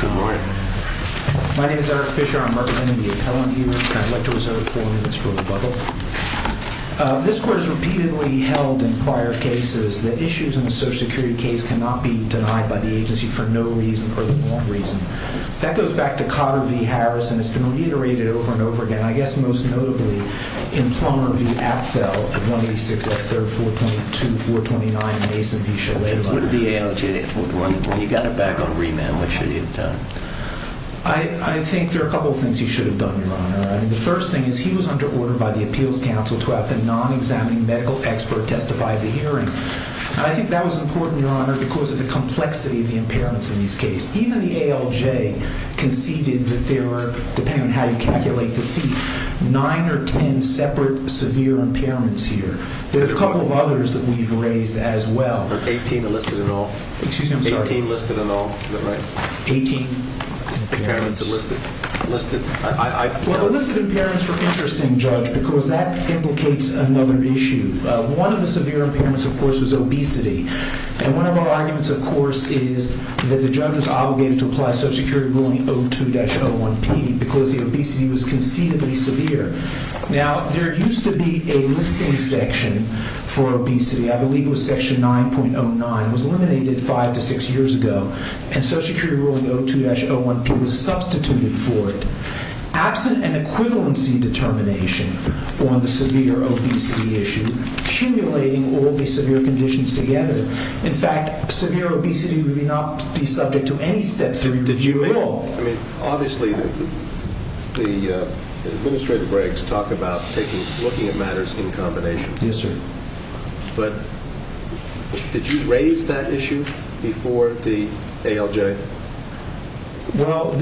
Good morning. My name is Eric Fisher. I'm representing the appellant here, and I'd like to reserve four minutes for rebuttal. This Court has repeatedly held in prior cases that issues in a Social Security case cannot be denied by the agency for no reason or the one reason. That goes back to Cotter v. Harrison. It's been reiterated over and over again, I guess most notably in Plummer v. Apfel at 186 F. 3rd 422-429 and Mason v. Shalala. What did the ALJ, when he got it back on remand, what should he have done? I think there are a couple of things he should have done, Your Honor. I mean, the first thing is he was under order by the Appeals Council to have the non-examining medical expert testify at the hearing. And I think that was important, Your Honor, because of the complexity of the impairments in this case. Even the ALJ conceded that there were, depending on how you calculate the fee, nine or ten separate severe impairments here. There's a couple of others that we've raised as well. Eighteen enlisted in all. Excuse me, I'm sorry. Eighteen enlisted in all. Is that right? Eighteen impairments. Enlisted. Well, enlisted impairments were interesting, Judge, because that implicates another issue. One of the severe impairments, of course, was obesity. And one of our arguments, of course, is that the judge was obligated to apply Social Security Rule 02-01P because the obesity was concededly severe. Now, there used to be a listing section for obesity. I believe it was Section 9.09. It was eliminated five to six years ago. And Social Security Rule 02-01P was substituted for it. Absent an equivalency determination on the severe obesity issue, accumulating all the severe conditions together. In fact, severe obesity would not be subject to any Step 3 review at all. Obviously, the administrative regs talk about looking at matters in combination. Yes, sir. But did you raise that issue before the ALJ? Well,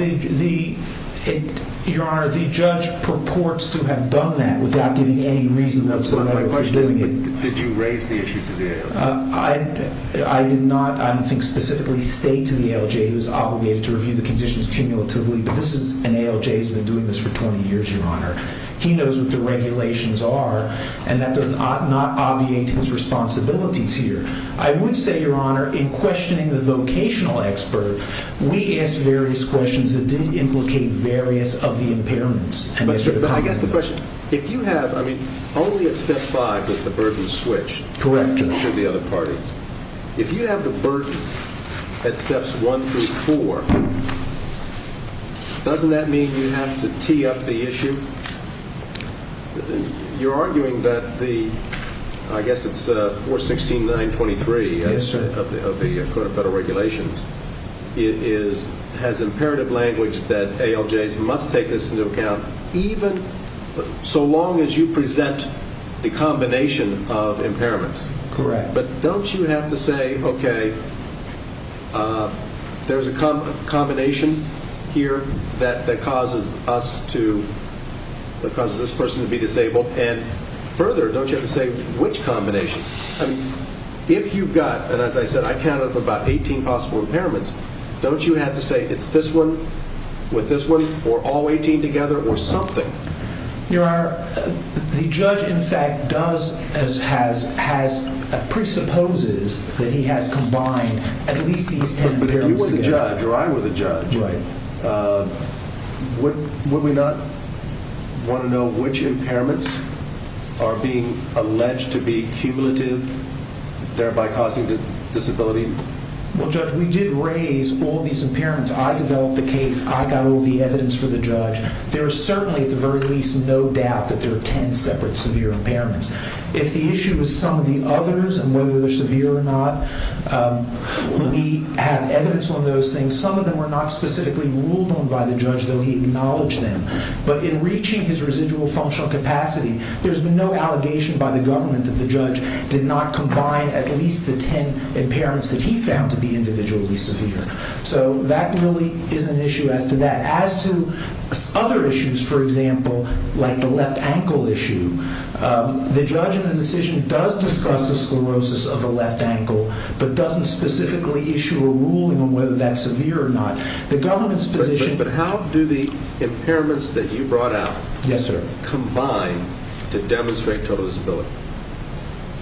Your Honor, the judge purports to have done that without giving any reason whatsoever for doing it. Did you raise the issue to the ALJ? I did not, I don't think, specifically say to the ALJ. He was obligated to review the conditions cumulatively. But this is an ALJ. He's been doing this for 20 years, Your Honor. He knows what the regulations are. And that does not obviate his responsibilities here. I would say, Your Honor, in questioning the vocational expert, we asked various questions that did implicate various of the impairments. But I guess the question, if you have, I mean, only at Step 5 does the burden switch. Correct. Should the other party. If you have the burden at Steps 1 through 4, doesn't that mean you have to tee up the issue? You're arguing that the, I guess it's 416.923 of the Code of Federal Regulations, it is, has imperative language that ALJs must take this into account, even so long as you present the combination of impairments. Correct. But don't you have to say, okay, there's a combination here that causes us to, that causes this person to be disabled. And further, don't you have to say which combination? I mean, if you've got, and as I said, I counted up about 18 possible impairments, don't you have to say it's this one with this one, or all 18 together, or something? Your Honor, the judge, in fact, does, has, presupposes that he has combined at least these 10 impairments together. Right. Would we not want to know which impairments are being alleged to be cumulative, thereby causing disability? Well, Judge, we did raise all these impairments. I developed the case. I got all the evidence for the judge. There is certainly, at the very least, no doubt that there are 10 separate severe impairments. If the issue is some of the others and whether they're severe or not, we have evidence on those things. Some of them were not specifically ruled on by the judge, though he acknowledged them. But in reaching his residual functional capacity, there's been no allegation by the government that the judge did not combine at least the 10 impairments that he found to be individually severe. So that really is an issue as to that. The judge in the decision does discuss the sclerosis of the left ankle, but doesn't specifically issue a ruling on whether that's severe or not. But how do the impairments that you brought out combine to demonstrate total disability?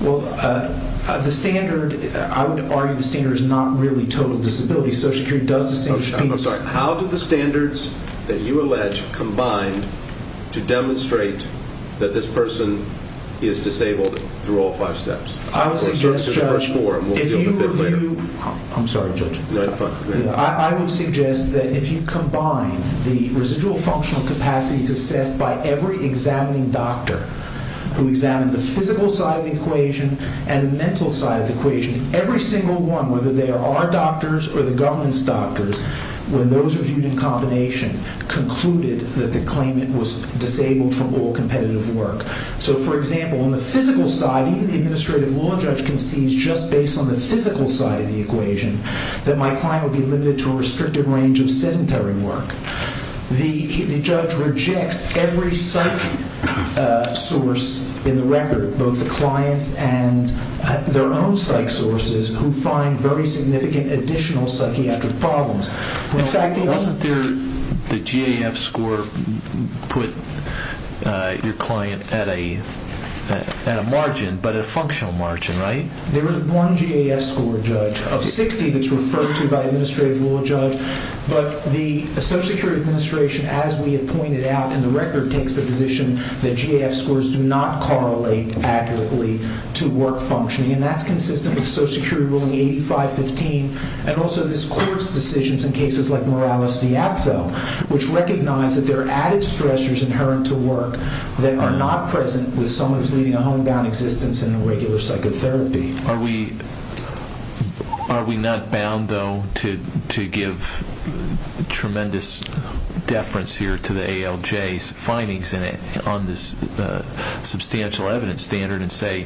Well, the standard, I would argue the standard is not really total disability. I'm sorry. How do the standards that you allege combine to demonstrate that this person is disabled through all five steps? I would suggest, Judge, if you review—I'm sorry, Judge. Go ahead. I would suggest that if you combine the residual functional capacities assessed by every examining doctor who examined the physical side of the equation and the mental side of the equation, every single one, whether they are our doctors or the government's doctors, when those are viewed in combination, concluded that the claimant was disabled from all competitive work. So, for example, on the physical side, even the administrative law judge concedes just based on the physical side of the equation that my client would be limited to a restrictive range of sedentary work. The judge rejects every psych source in the record, both the client's and their own psych sources, who find very significant additional psychiatric problems. In fact, wasn't the GAF score put your client at a margin, but a functional margin, right? There is one GAF score, Judge, of 60, that's referred to by administrative law judge. But the Social Security Administration, as we have pointed out in the record, takes the position that GAF scores do not correlate accurately to work functioning. And that's consistent with Social Security ruling 8515 and also this court's decisions in cases like Morales v. Apfel, which recognize that there are added stressors inherent to work that are not present with someone who is leading a homebound existence in a regular psychotherapy. Are we not bound, though, to give tremendous deference here to the ALJ's findings on this substantial evidence standard and say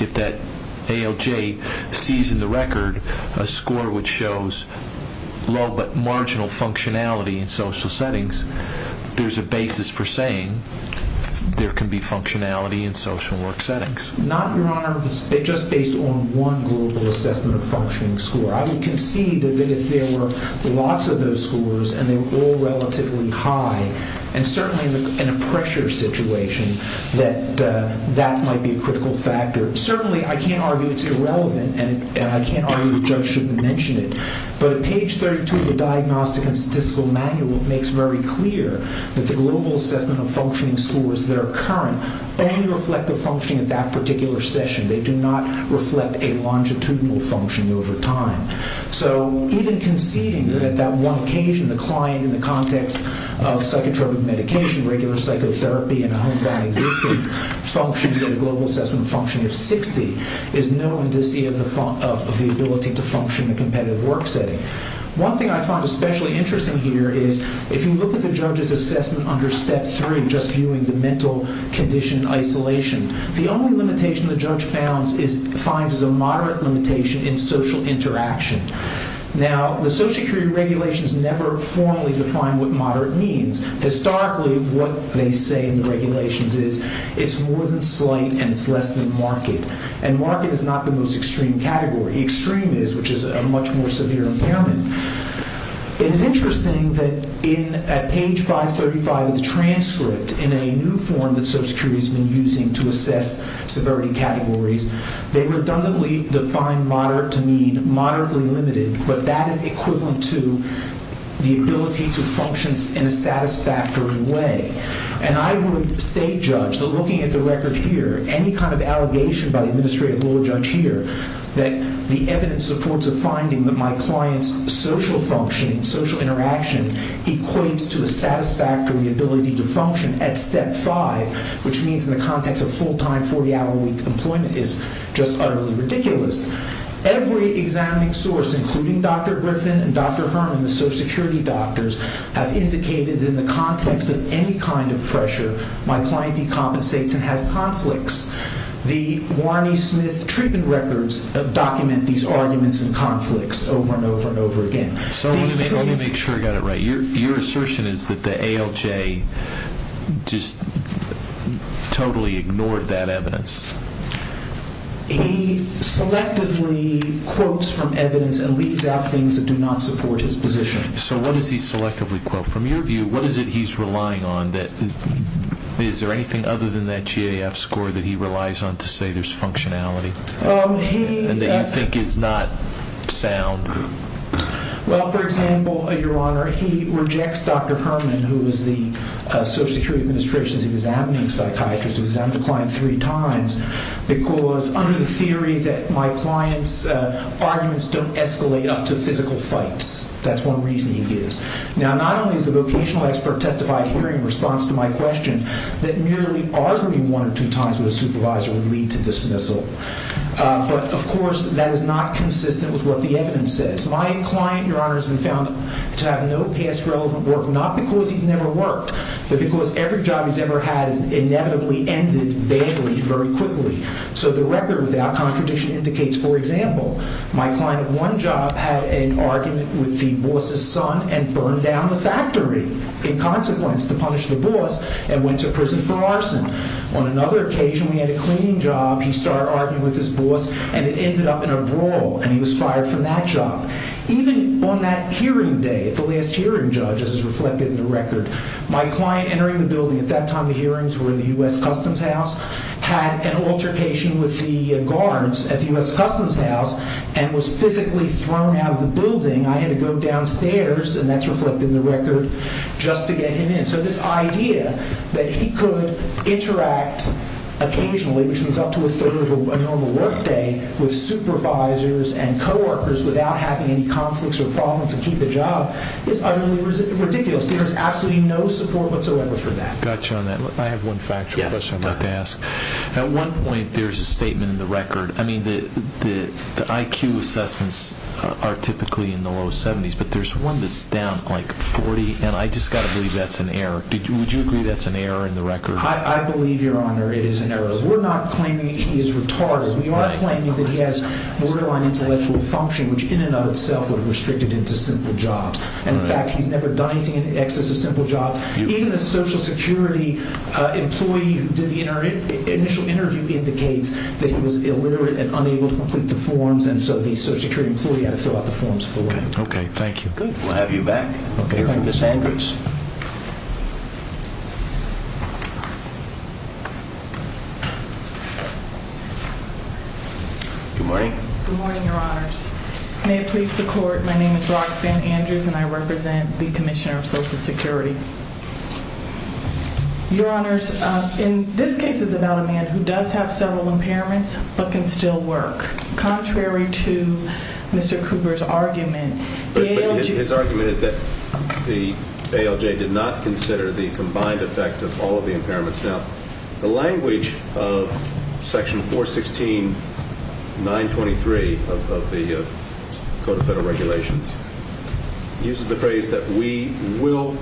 if that ALJ sees in the record a score which shows low but marginal functionality in social settings, there's a basis for saying there can be functionality in social work settings? Not, Your Honor, just based on one global assessment of functioning score. I would concede that if there were lots of those scores and they were all relatively high, and certainly in a pressure situation, that that might be a critical factor. Certainly, I can't argue it's irrelevant, and I can't argue the judge shouldn't mention it. But page 32 of the Diagnostic and Statistical Manual makes very clear that the global assessment of functioning scores that are current only reflect the functioning of that particular session. They do not reflect a longitudinal function over time. So even conceding that at that one occasion the client in the context of psychotropic medication, regular psychotherapy, and a homebound existence functioned at a global assessment function of 60 is known to see the ability to function in a competitive work setting. One thing I find especially interesting here is if you look at the judge's assessment under Step 3, just viewing the mental condition isolation, the only limitation the judge finds is a moderate limitation in social interaction. Now, the social security regulations never formally define what moderate means. Historically, what they say in the regulations is it's more than slight and it's less than marked. And marked is not the most extreme category. Extreme is, which is a much more severe impairment. It is interesting that at page 535 of the transcript, in a new form that social security has been using to assess severity categories, they redundantly define moderate to mean moderately limited. But that is equivalent to the ability to function in a satisfactory way. And I would state, Judge, that looking at the record here, any kind of allegation by the administrative law judge here that the evidence supports a finding that my client's social functioning, social interaction, equates to a satisfactory ability to function at Step 5, which means in the context of full-time, 40-hour-a-week employment, is just utterly ridiculous. Every examining source, including Dr. Griffin and Dr. Herman, the social security doctors, have indicated in the context of any kind of pressure, my client decompensates and has conflicts. The Warren E. Smith treatment records document these arguments and conflicts over and over and over again. So let me make sure I got it right. Your assertion is that the ALJ just totally ignored that evidence. He selectively quotes from evidence and leaves out things that do not support his position. So what does he selectively quote? From your view, what is it he's relying on? Is there anything other than that GAF score that he relies on to say there's functionality and that you think is not sound? Well, for example, Your Honor, he rejects Dr. Herman, who is the social security administration's examining psychiatrist, who examined the client three times, because under the theory that my client's arguments don't escalate up to physical fights. That's one reason he gives. Now, not only is the vocational expert testified here in response to my question that merely arguing one or two times with a supervisor would lead to dismissal. But, of course, that is not consistent with what the evidence says. My client, Your Honor, has been found to have no past relevant work, not because he's never worked, but because every job he's ever had has inevitably ended badly, very quickly. So the record without contradiction indicates, for example, my client at one job had an argument with the boss's son and burned down the factory in consequence to punish the boss and went to prison for arson. On another occasion, we had a cleaning job. He started arguing with his boss, and it ended up in a brawl, and he was fired from that job. Even on that hearing day, at the last hearing, Judge, as is reflected in the record, my client entering the building, at that time the hearings were in the U.S. Customs House, had an altercation with the guards at the U.S. Customs House and was physically thrown out of the building. I had to go downstairs, and that's reflected in the record, just to get him in. So this idea that he could interact occasionally, which means up to a third of a normal work day, with supervisors and coworkers without having any conflicts or problems and keep the job is utterly ridiculous. There is absolutely no support whatsoever for that. I've got you on that. I have one factual question I'd like to ask. At one point, there's a statement in the record. I mean, the IQ assessments are typically in the low 70s, but there's one that's down like 40, and I just got to believe that's an error. Would you agree that's an error in the record? I believe, Your Honor, it is an error. We're not claiming he is retarded. We are claiming that he has borderline intellectual function, which in and of itself would have restricted him to simple jobs. In fact, he's never done anything in excess of simple jobs. Even a Social Security employee who did the initial interview indicates that he was illiterate and unable to complete the forms, and so the Social Security employee had to fill out the forms for him. Okay. Thank you. Good. We'll have you back. Okay. Good morning. Good morning, Your Honors. May it please the Court, my name is Roxanne Andrews, and I represent the Commissioner of Social Security. Your Honors, in this case, it's about a man who does have several impairments but can still work. Contrary to Mr. Cooper's argument, the ALJ— But his argument is that the ALJ did not consider the combined effect of all of the impairments. Now, the language of Section 416.923 of the Code of Federal Regulations uses the phrase that we will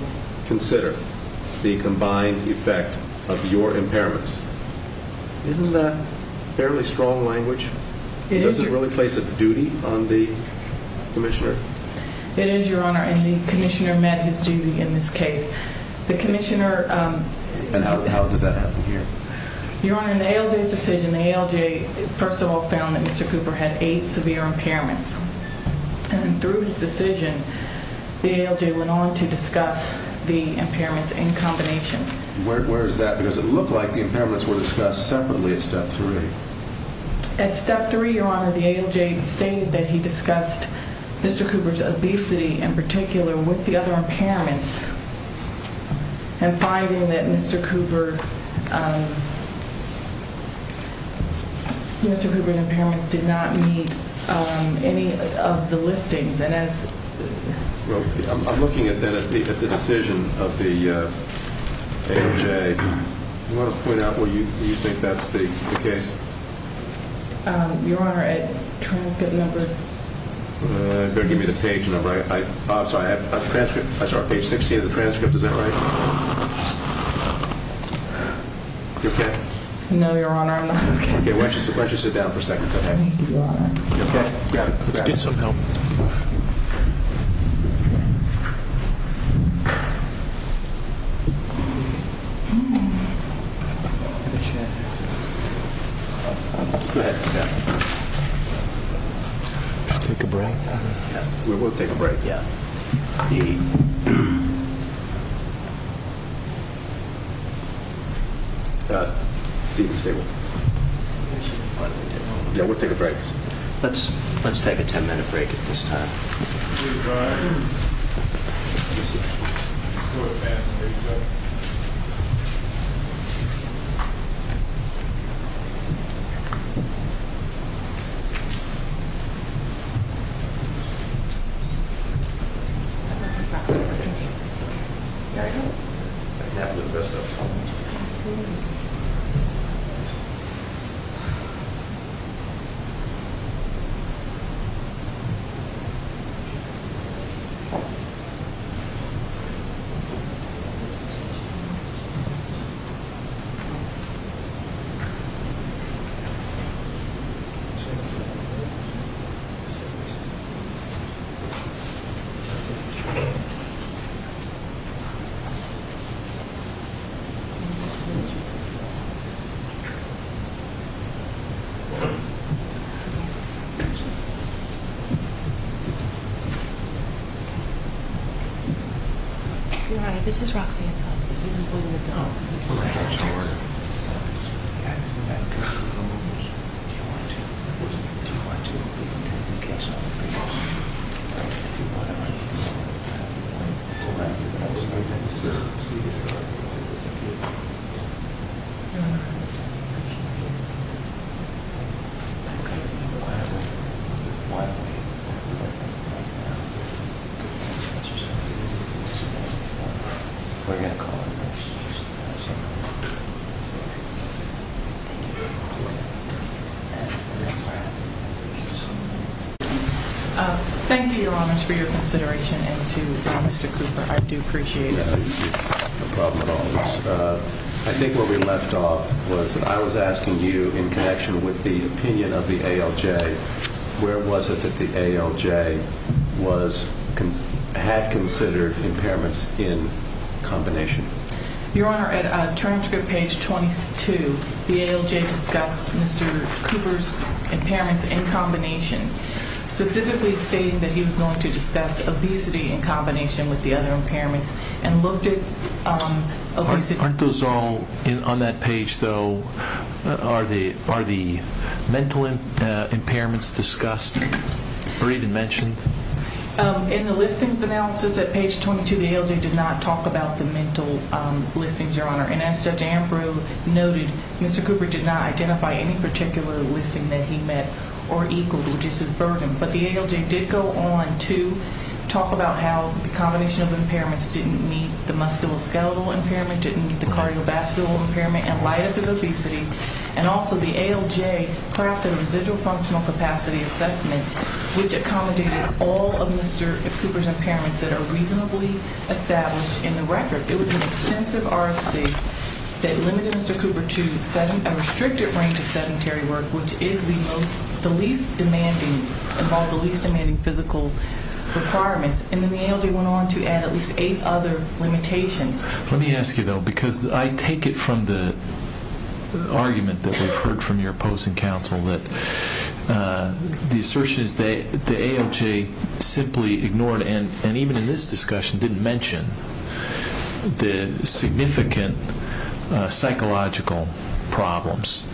consider the combined effect of your impairments. Isn't that fairly strong language? It is, Your Honor. Does it really place a duty on the Commissioner? It is, Your Honor, and the Commissioner met his duty in this case. The Commissioner— And how did that happen here? Your Honor, in the ALJ's decision, the ALJ, first of all, found that Mr. Cooper had eight severe impairments. And through his decision, the ALJ went on to discuss the impairments in combination. Where is that? Because it looked like the impairments were discussed separately at Step 3. At Step 3, Your Honor, the ALJ stated that he discussed Mr. Cooper's obesity in particular with the other impairments. And finding that Mr. Cooper—Mr. Cooper's impairments did not meet any of the listings, and as— Well, I'm looking then at the decision of the ALJ. Do you want to point out where you think that's the case? Your Honor, at transcript number— Better give me the page number. I'm sorry, at the transcript. I'm sorry, page 60 of the transcript. Is that right? You okay? No, Your Honor, I'm not okay. Okay, why don't you sit down for a second? Thank you, Your Honor. You okay? Let's get some help. Go ahead. Should we take a break? Yeah, we'll take a break. Yeah. Yeah, we'll take a break. Let's take a 10-minute break at this time. Thank you. I'm not going to drop it. I can take it. It's okay. You all right? I can handle the rest of it. Okay. Thank you. Your Honor, this is Roxanne Feldman. Oh, I'm sorry. I'm sorry. We're going to call it a day. Thank you, Your Honors. Thank you, Your Honors, for your consideration, and to Mr. Cooper, I do appreciate it. No, you did not have a problem at all. I think where we left off was that I was asking you, in connection with the opinion of the ALJ, where was it that the ALJ had considered impairments in combination? Your Honor, at transcript page 22, the ALJ discussed Mr. Cooper's impairments in combination, specifically stating that he was going to discuss obesity in combination with the other impairments, and looked at obesity… Aren't those all on that page, though? Are the mental impairments discussed or even mentioned? In the listings analysis at page 22, the ALJ did not talk about the mental listings, Your Honor. And as Judge Ambrose noted, Mr. Cooper did not identify any particular listing that he met or equaled, which is his burden. But the ALJ did go on to talk about how the combination of impairments didn't meet the musculoskeletal impairment, didn't meet the cardiovascular impairment, and light up his obesity. And also the ALJ crafted a residual functional capacity assessment, which accommodated all of Mr. Cooper's impairments that are reasonably established in the record. It was an extensive RFC that limited Mr. Cooper to a restricted range of sedentary work, which involves the least demanding physical requirements. And then the ALJ went on to add at least eight other limitations. Let me ask you, though, because I take it from the argument that we've heard from your opposing counsel that the assertion is that the ALJ simply ignored and even in this discussion didn't mention the significant psychological problems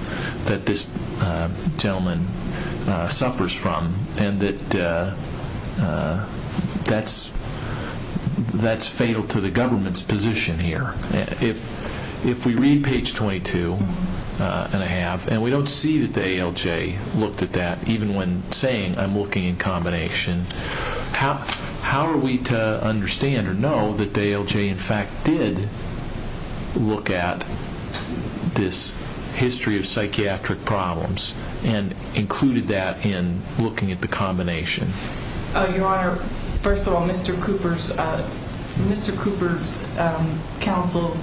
that this gentleman suffers from, and that that's fatal to the government's position here. If we read page 22 and a half, and we don't see that the ALJ looked at that, even when saying, I'm looking in combination, how are we to understand or know that the ALJ, in fact, did look at this history of psychiatric problems and included that in looking at the combination? Your Honor, first of all, Mr. Cooper's counsel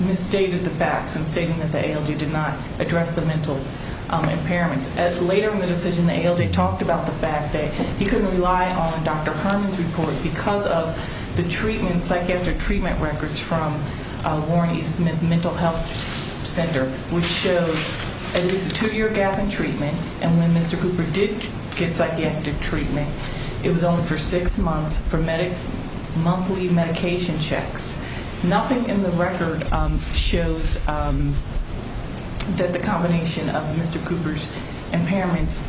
misstated the facts in stating that the ALJ did not address the mental impairments. Later in the decision, the ALJ talked about the fact that he couldn't rely on Dr. Herman's report because of the psychiatric treatment records from Warren E. Smith Mental Health Center, which shows a two-year gap in treatment, and when Mr. Cooper did get psychiatric treatment, it was only for six months for monthly medication checks. Nothing in the record shows that the combination of Mr. Cooper's impairments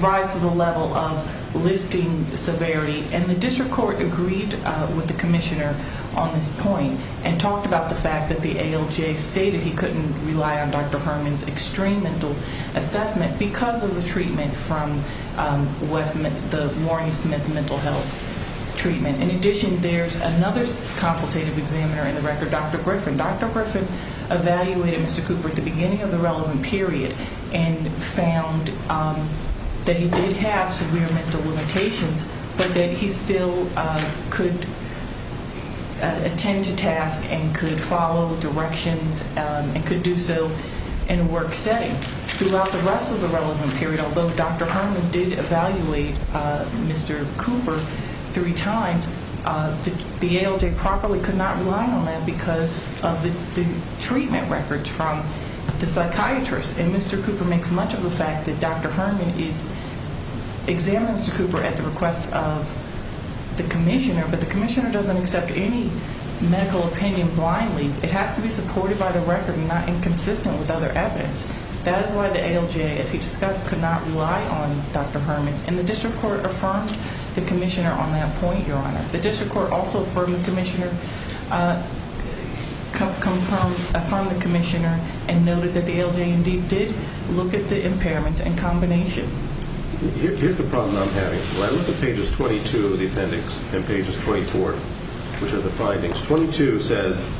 rise to the level of listing severity. And the district court agreed with the commissioner on this point and talked about the fact that the ALJ stated he couldn't rely on Dr. Herman's extreme mental assessment because of the treatment from the Warren E. Smith Mental Health Treatment. In addition, there's another consultative examiner in the record, Dr. Griffin. Dr. Griffin evaluated Mr. Cooper at the beginning of the relevant period and found that he did have severe mental limitations, but that he still could attend to tasks and could follow directions and could do so in a work setting. Throughout the rest of the relevant period, although Dr. Herman did evaluate Mr. Cooper three times, the ALJ properly could not rely on him because of the treatment records from the psychiatrist. And Mr. Cooper makes much of a fact that Dr. Herman is examining Mr. Cooper at the request of the commissioner, but the commissioner doesn't accept any medical opinion blindly. It has to be supported by the record and not inconsistent with other evidence. That is why the ALJ, as he discussed, could not rely on Dr. Herman. And the district court affirmed the commissioner on that point, Your Honor. The district court also affirmed the commissioner and noted that the ALJ indeed did look at the impairments and combination. Here's the problem I'm having. When I look at pages 22 of the appendix and pages 24, which are the findings, 22 says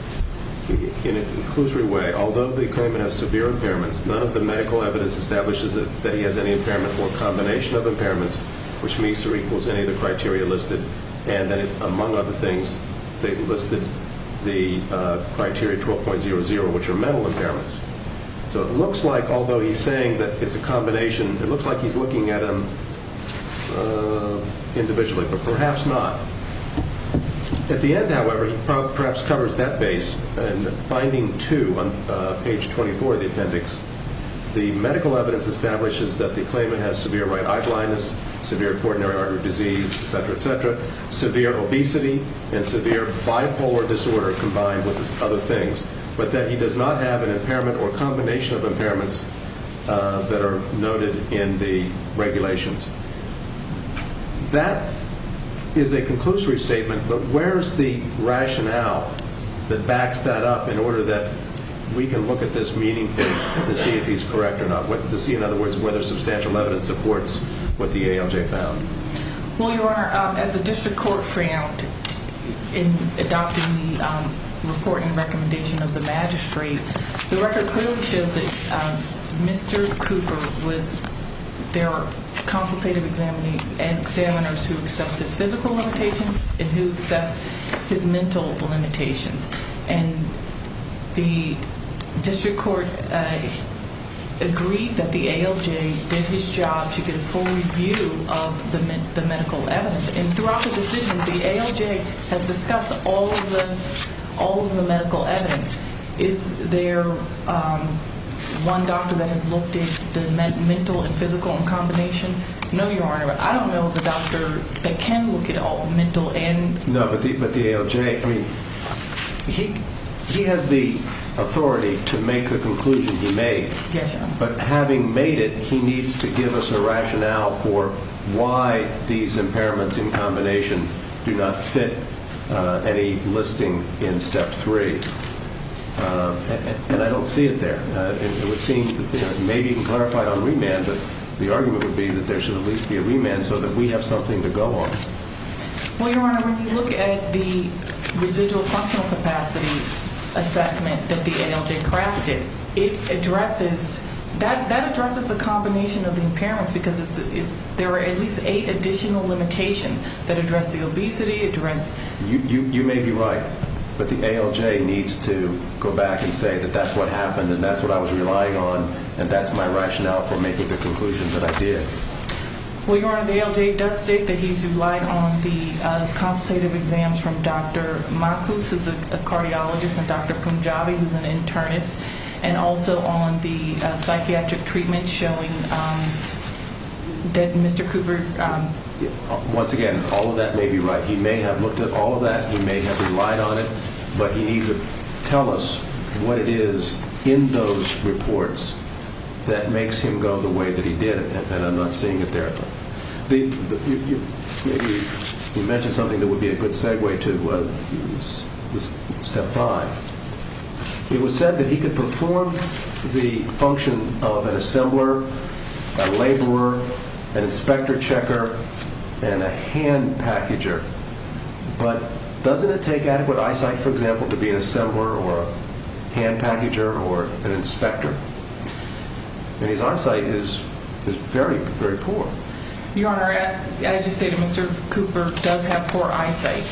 in an inclusory way, although the claimant has severe impairments, none of the medical evidence establishes that he has any impairment or combination of impairments, which means or equals any of the criteria listed. And then, among other things, they listed the criteria 12.00, which are mental impairments. So it looks like, although he's saying that it's a combination, it looks like he's looking at them individually, but perhaps not. At the end, however, he perhaps covers that base. In finding two on page 24 of the appendix, the medical evidence establishes that the claimant has severe right-eye blindness, severe coronary artery disease, et cetera, et cetera, severe obesity, and severe bipolar disorder combined with other things, but that he does not have an impairment or combination of impairments that are noted in the regulations. That is a conclusory statement, but where is the rationale that backs that up in order that we can look at this meeting to see if he's correct or not, to see, in other words, whether substantial evidence supports what the ALJ found? Well, Your Honor, as the district court found in adopting the report and recommendation of the magistrate, the record clearly shows that Mr. Cooper was their consultative examiner who assessed his physical limitations and who assessed his mental limitations. And the district court agreed that the ALJ did his job to get a full review of the medical evidence. And throughout the decision, the ALJ has discussed all of the medical evidence. Is there one doctor that has looked at the mental and physical in combination? No, Your Honor. I don't know of a doctor that can look at all the mental and... No, but the ALJ, I mean, he has the authority to make the conclusion he made. Yes, Your Honor. But having made it, he needs to give us a rationale for why these impairments in combination do not fit any listing in Step 3. And I don't see it there. It would seem, you know, maybe you can clarify it on remand, but the argument would be that there should at least be a remand so that we have something to go on. Well, Your Honor, when you look at the residual functional capacity assessment that the ALJ crafted, it addresses, that addresses the combination of the impairments because there are at least eight additional limitations that address the obesity, address... You may be right, but the ALJ needs to go back and say that that's what happened and that's what I was relying on and that's my rationale for making the conclusion that I did. Well, Your Honor, the ALJ does state that he's relied on the consultative exams from Dr. Makus, who's a cardiologist, and Dr. Punjabi, who's an internist, and also on the psychiatric treatment showing that Mr. Cooper... Once again, all of that may be right. He may have looked at all of that. He may have relied on it, but he needs to tell us what it is in those reports that makes him go the way that he did, and I'm not seeing it there. Maybe you mentioned something that would be a good segue to step five. It was said that he could perform the function of an assembler, a laborer, an inspector checker, and a hand packager, but doesn't it take adequate eyesight, for example, to be an assembler or a hand packager or an inspector? And his eyesight is very, very poor. Your Honor, as you stated, Mr. Cooper does have poor eyesight,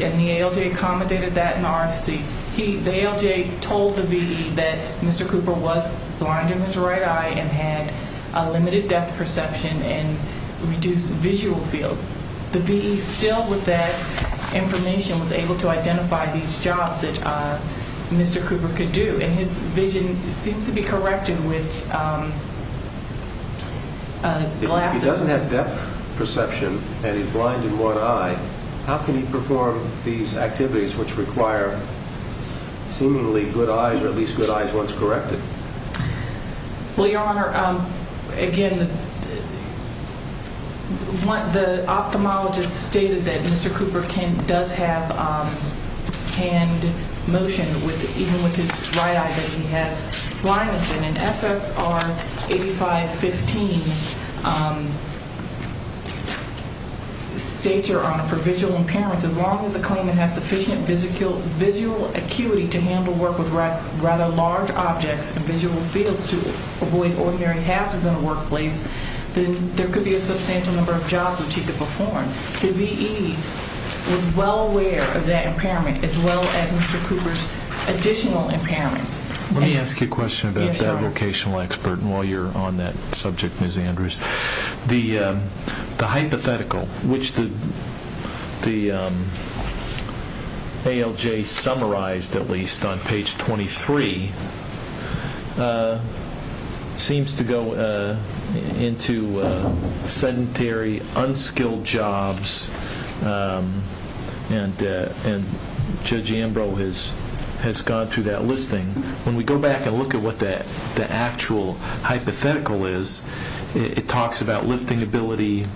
and the ALJ accommodated that in RFC. The ALJ told the VE that Mr. Cooper was blind in his right eye and had a limited depth perception and reduced visual field. The VE, still with that information, was able to identify these jobs that Mr. Cooper could do, and his vision seems to be corrected with glasses. If he doesn't have depth perception and is blind in one eye, how can he perform these activities which require seemingly good eyes, or at least good eyes once corrected? Well, Your Honor, again, the ophthalmologist stated that Mr. Cooper does have hand motion, even with his right eye, that he has blindness in. And SSR 8515 states, Your Honor, for visual impairments, as long as the claimant has sufficient visual acuity to handle work with rather large objects and visual fields to avoid ordinary hazard in the workplace, then there could be a substantial number of jobs which he could perform. The VE was well aware of that impairment as well as Mr. Cooper's additional impairments. Let me ask you a question about that vocational expert while you're on that subject, Ms. Andrews. The hypothetical, which the ALJ summarized at least on page 23, seems to go into sedentary, unskilled jobs, and Judge Ambrose has gone through that listing. When we go back and look at what the actual hypothetical is, it talks about lifting ability,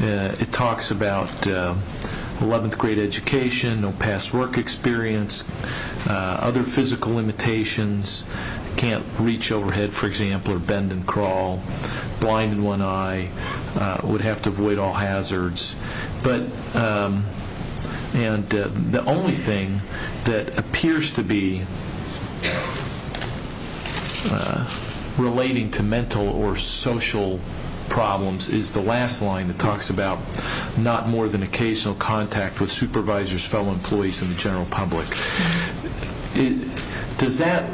it talks about 11th grade education, no past work experience, other physical limitations, can't reach overhead, for example, or bend and crawl, blind in one eye, would have to avoid all hazards. And the only thing that appears to be relating to mental or social problems is the last line that talks about not more than occasional contact with supervisors, fellow employees, and the general public. Does that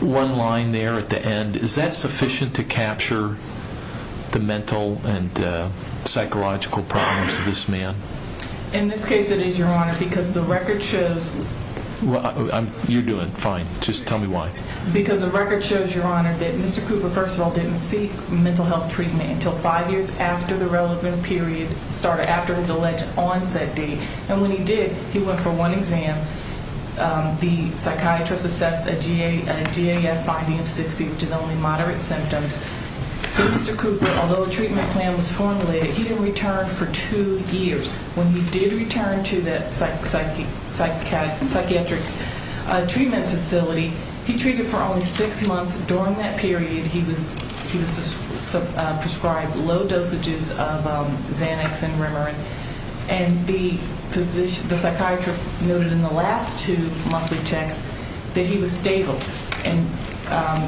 one line there at the end, is that sufficient to capture the mental and psychological problems of this man? In this case it is, Your Honor, because the record shows... You're doing fine. Just tell me why. Because the record shows, Your Honor, that Mr. Cooper, first of all, didn't seek mental health treatment until five years after the relevant period started, after his alleged onset date. And when he did, he went for one exam. The psychiatrist assessed a GAF binding of 60, which is only moderate symptoms. Mr. Cooper, although a treatment plan was formulated, he didn't return for two years. When he did return to that psychiatric treatment facility, he treated for only six months. During that period, he was prescribed low dosages of Xanax and Rimerin. And the psychiatrist noted in the last two monthly checks that he was stable. And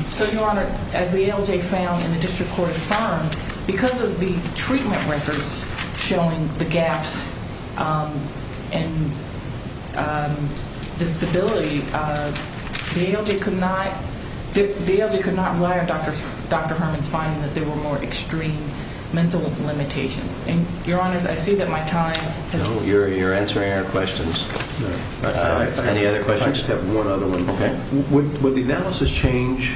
so, Your Honor, as the ALJ found and the district court confirmed, because of the treatment records showing the gaps and disability, the ALJ could not rely on Dr. Herman's finding that there were more extreme mental limitations. And, Your Honor, I see that my time has... No, you're answering our questions. Any other questions? I just have one other one. Okay. Would the analysis change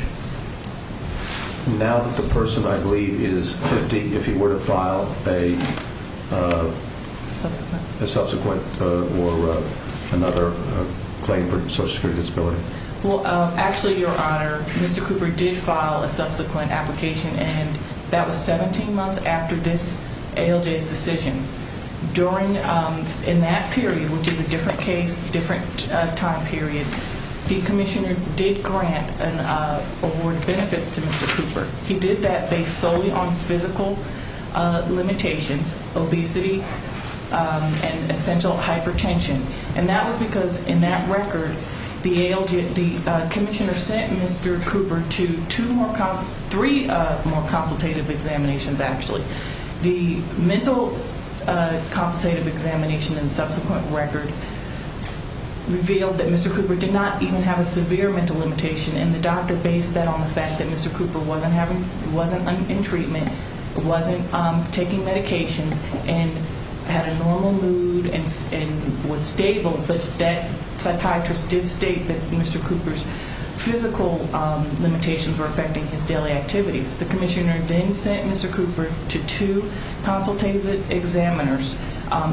now that the person, I believe, is 50, if he were to file a subsequent or another claim for social security disability? Well, actually, Your Honor, Mr. Cooper did file a subsequent application, and that was 17 months after this ALJ's decision. During that period, which is a different case, different time period, the commissioner did grant an award of benefits to Mr. Cooper. He did that based solely on physical limitations, obesity, and essential hypertension. And that was because, in that record, the ALJ, the commissioner sent Mr. Cooper to two more, three more consultative examinations, actually. The mental consultative examination and subsequent record revealed that Mr. Cooper did not even have a severe mental limitation, and the doctor based that on the fact that Mr. Cooper wasn't in treatment, wasn't taking medications, and had a normal mood and was stable, but that psychiatrist did state that Mr. Cooper's physical limitations were affecting his daily activities. The commissioner then sent Mr. Cooper to two consultative examiners.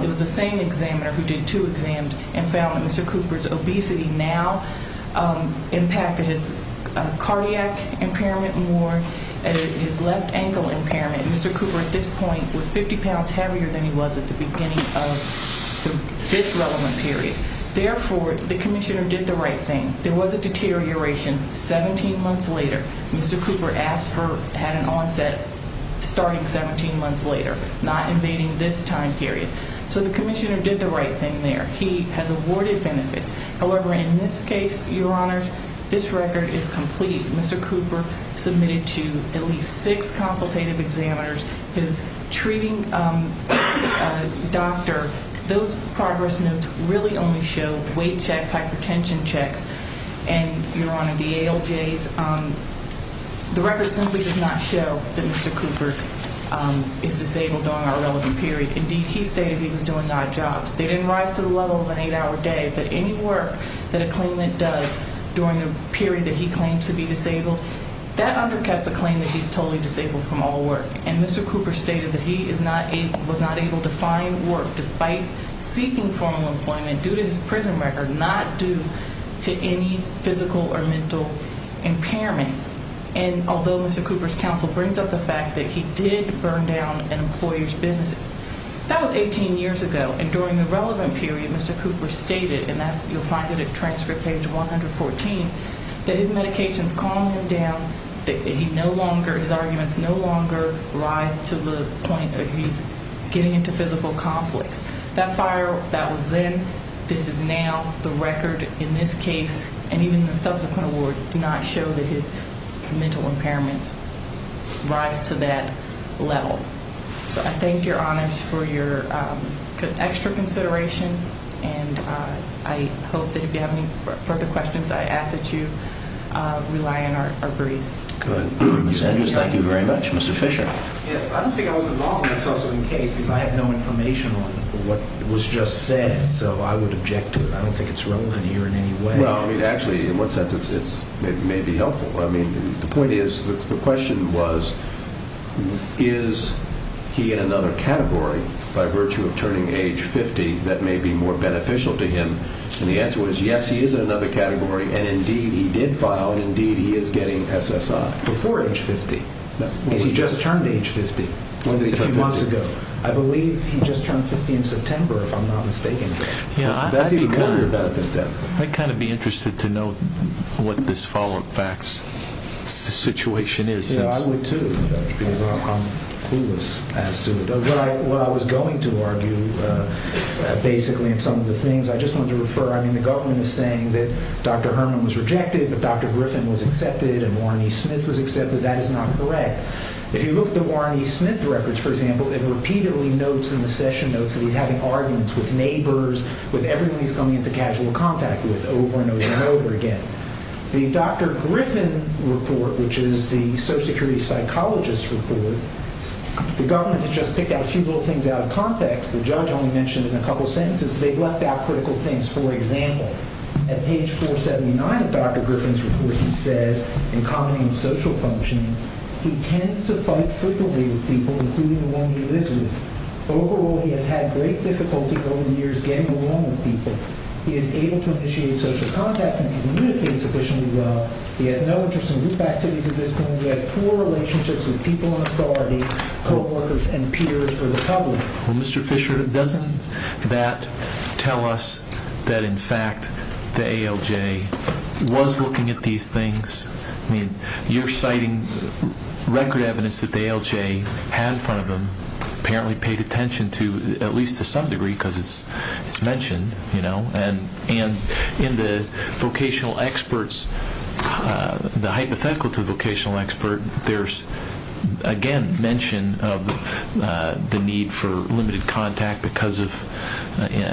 It was the same examiner who did two exams and found that Mr. Cooper's obesity now impacted his cardiac impairment more and his left ankle impairment. Mr. Cooper, at this point, was 50 pounds heavier than he was at the beginning of this relevant period. Therefore, the commissioner did the right thing. There was a deterioration 17 months later. Mr. Cooper had an onset starting 17 months later, not invading this time period. So the commissioner did the right thing there. He has awarded benefits. However, in this case, Your Honors, this record is complete. Mr. Cooper submitted to at least six consultative examiners. His treating doctor, those progress notes really only show weight checks, hypertension checks, and, Your Honor, the ALJs. The record simply does not show that Mr. Cooper is disabled during our relevant period. Indeed, he stated he was doing odd jobs. They didn't rise to the level of an eight-hour day. But any work that a claimant does during the period that he claims to be disabled, that undercuts a claim that he's totally disabled from all work. And Mr. Cooper stated that he was not able to find work despite seeking formal employment due to his prison record, not due to any physical or mental impairment. And although Mr. Cooper's counsel brings up the fact that he did burn down an employer's business, that was 18 years ago. And during the relevant period, Mr. Cooper stated, and you'll find it at transfer page 114, that his medications calmed him down, that his arguments no longer rise to the point that he's getting into physical conflicts. That fire, that was then. This is now. The record in this case and even the subsequent award do not show that his mental impairment rise to that level. So I thank your honors for your extra consideration, and I hope that if you have any further questions, I ask that you rely on our briefs. Good. Ms. Andrews, thank you very much. Mr. Fisher. Yes. I don't think I was involved in this subsequent case because I have no information on what was just said. So I would object to it. I don't think it's relevant here in any way. Well, I mean, actually, in what sense? It may be helpful. I mean, the point is, the question was, is he in another category by virtue of turning age 50 that may be more beneficial to him? And the answer was, yes, he is in another category, and, indeed, he did file, and, indeed, he is getting SSI. Before age 50? No. Because he just turned age 50 a few months ago. When did he turn 50? I believe he just turned 50 in September, if I'm not mistaken. Yeah, I'd kind of be interested to know what this follow-up facts situation is. Yeah, I would, too, because I'm clueless as to what I was going to argue, basically, in some of the things. I just wanted to refer, I mean, the government is saying that Dr. Herman was rejected, that Dr. Griffin was accepted, and Warren E. Smith was accepted. That is not correct. If you look at the Warren E. Smith records, for example, it repeatedly notes in the session notes that he's having arguments with neighbors, with everyone he's coming into casual contact with over and over and over again. The Dr. Griffin report, which is the social security psychologist's report, the government has just picked out a few little things out of context. The judge only mentioned it in a couple sentences, but they've left out critical things. For example, at page 479 of Dr. Griffin's report, he says, in comedy and social functioning, he tends to fight frequently with people, including the one he lives with. Overall, he has had great difficulty over the years getting along with people. He is able to initiate social contacts and communicate sufficiently well. He has no interest in group activities of this kind. He has poor relationships with people in authority, co-workers, and peers or the public. Well, Mr. Fisher, doesn't that tell us that, in fact, the ALJ was looking at these things? You're citing record evidence that the ALJ had in front of him, apparently paid attention to, at least to some degree because it's mentioned. And in the vocational experts, the hypothetical to the vocational expert, there's, again, mention of the need for limited contact because of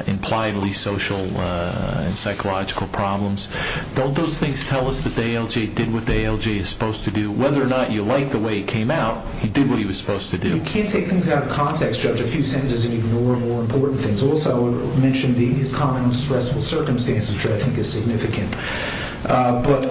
impliedly social and psychological problems. Don't those things tell us that the ALJ did what the ALJ is supposed to do? Whether or not you like the way he came out, he did what he was supposed to do. You can't take things out of context, Judge. A few sentences and ignore more important things. Also, I would mention these common stressful circumstances, which I think is significant. But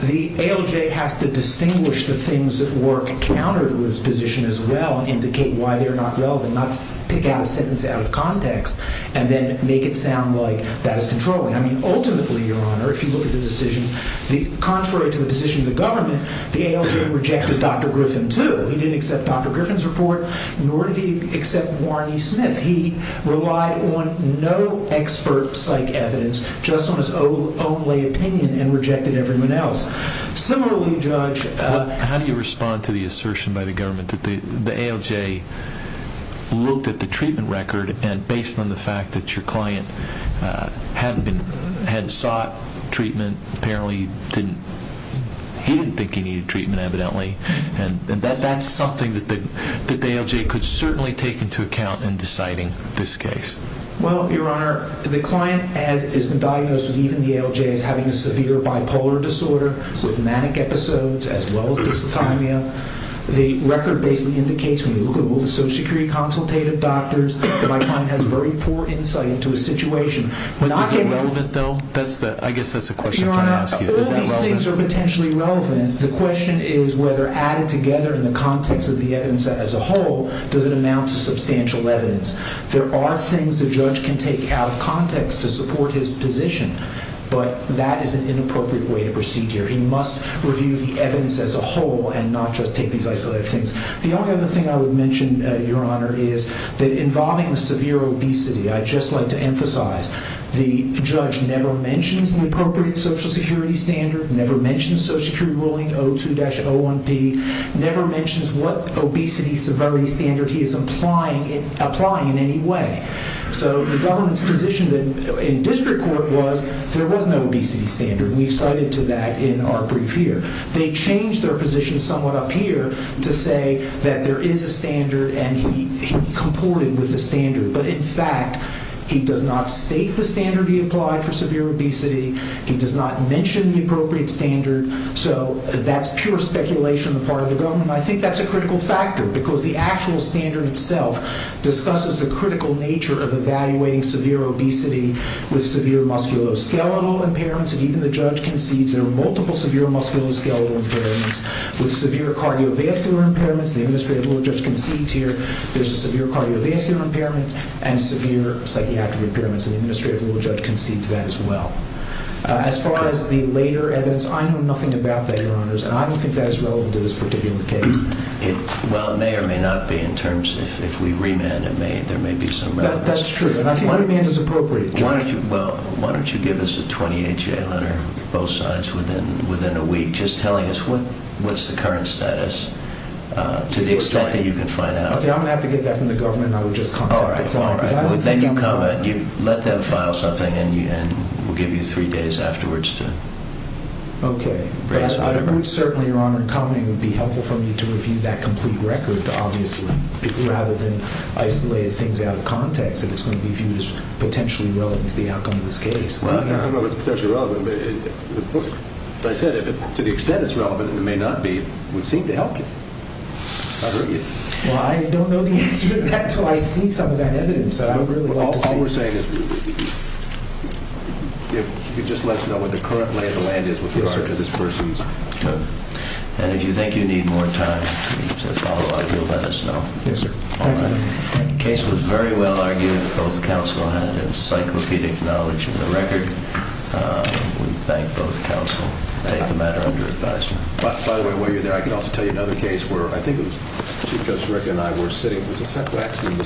the ALJ has to distinguish the things that work counter to his position as well, indicate why they're not relevant, not pick out a sentence out of context, and then make it sound like that is controlling. I mean, ultimately, Your Honor, if you look at the decision, contrary to the decision of the government, the ALJ rejected Dr. Griffin, too. He didn't accept Dr. Griffin's report, nor did he accept Warren E. Smith. He relied on no expert psych evidence, just on his own lay opinion, and rejected everyone else. Similarly, Judge, How do you respond to the assertion by the government that the ALJ looked at the treatment record and based on the fact that your client had sought treatment, apparently he didn't think he needed treatment, evidently. And that's something that the ALJ could certainly take into account in deciding this case. Well, Your Honor, the client, as has been diagnosed with even the ALJ, is having a severe bipolar disorder with manic episodes as well as dyslithymia. The record basically indicates when you look at all the social security consultative doctors, that my client has very poor insight into a situation. But is it relevant, though? I guess that's the question I'm trying to ask you. Your Honor, all these things are potentially relevant. The question is whether added together in the context of the evidence as a whole, does it amount to substantial evidence. There are things the judge can take out of context to support his position, but that is an inappropriate way to proceed here. He must review the evidence as a whole and not just take these isolated things. The other thing I would mention, Your Honor, is that involving the severe obesity, I'd just like to emphasize the judge never mentions an appropriate social security standard, never mentions social security ruling 02-01P, never mentions what obesity severity standard he is applying in any way. So the government's position in district court was there was no obesity standard. We've cited to that in our brief here. They changed their position somewhat up here to say that there is a standard and he comported with the standard. But in fact, he does not state the standard he applied for severe obesity. He does not mention the appropriate standard. So that's pure speculation on the part of the government. I think that's a critical factor because the actual standard itself discusses the critical nature of evaluating severe obesity with severe musculoskeletal impairments. And even the judge concedes there are multiple severe musculoskeletal impairments with severe cardiovascular impairments. The administrative law judge concedes here there's a severe cardiovascular impairment and severe psychiatric impairments. And the administrative law judge concedes that as well. As far as the later evidence, I know nothing about that, Your Honors, and I don't think that is relevant to this particular case. Well, it may or may not be in terms if we remand it. There may be some relevance. That's true, and I think remand is appropriate, Judge. Well, why don't you give us a 28-J letter, both sides, within a week, just telling us what's the current status to the extent that you can find out. Okay, I'm going to have to get that from the government, and I will just contact the client. All right. Then you let them file something, and we'll give you three days afterwards to raise the record. Okay. But I think it would certainly, Your Honor, it would be helpful for me to review that complete record, obviously, rather than isolate things out of context that it's going to be viewed as potentially relevant to the outcome of this case. Well, I don't know if it's potentially relevant, but as I said, if to the extent it's relevant and it may not be, it would seem to help you. Well, I don't know the answer to that until I see some of that evidence, and I would really like to see it. All we're saying is if you could just let us know what the current lay of the land is, what the record to this person is. Good. And if you think you need more time to follow up, you'll let us know. Yes, sir. Thank you. The case was very well argued. Both counsel had encyclopedic knowledge of the record. We thank both counsel. I take the matter under advisement. By the way, while you're there, I can also tell you another case where I think it was Chief Justice Rickett and I were sitting. It was a Seth Waxman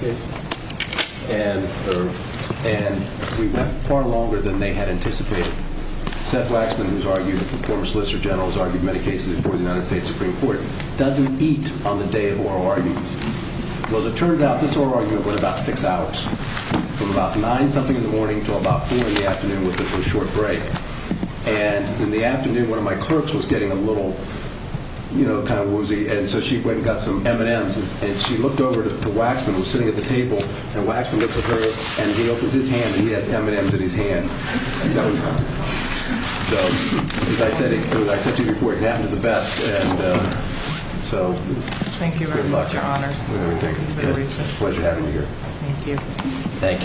case, and we went far longer than they had anticipated. Seth Waxman, who's argued that the former Solicitor General has argued many cases before the United States Supreme Court, doesn't eat on the day of oral arguments. Well, it turns out this oral argument went about six hours, from about nine-something in the morning to about four in the afternoon with a short break. And in the afternoon, one of my clerks was getting a little, you know, kind of woozy, and so she went and got some M&Ms, and she looked over to Waxman, who was sitting at the table, and Waxman looks at her, and he opens his hand, and he has M&Ms in his hand. So, as I said to you before, it happened to the best, and so good luck. Thank you very much, Your Honors. It's a pleasure having you here. Thank you, Counsel.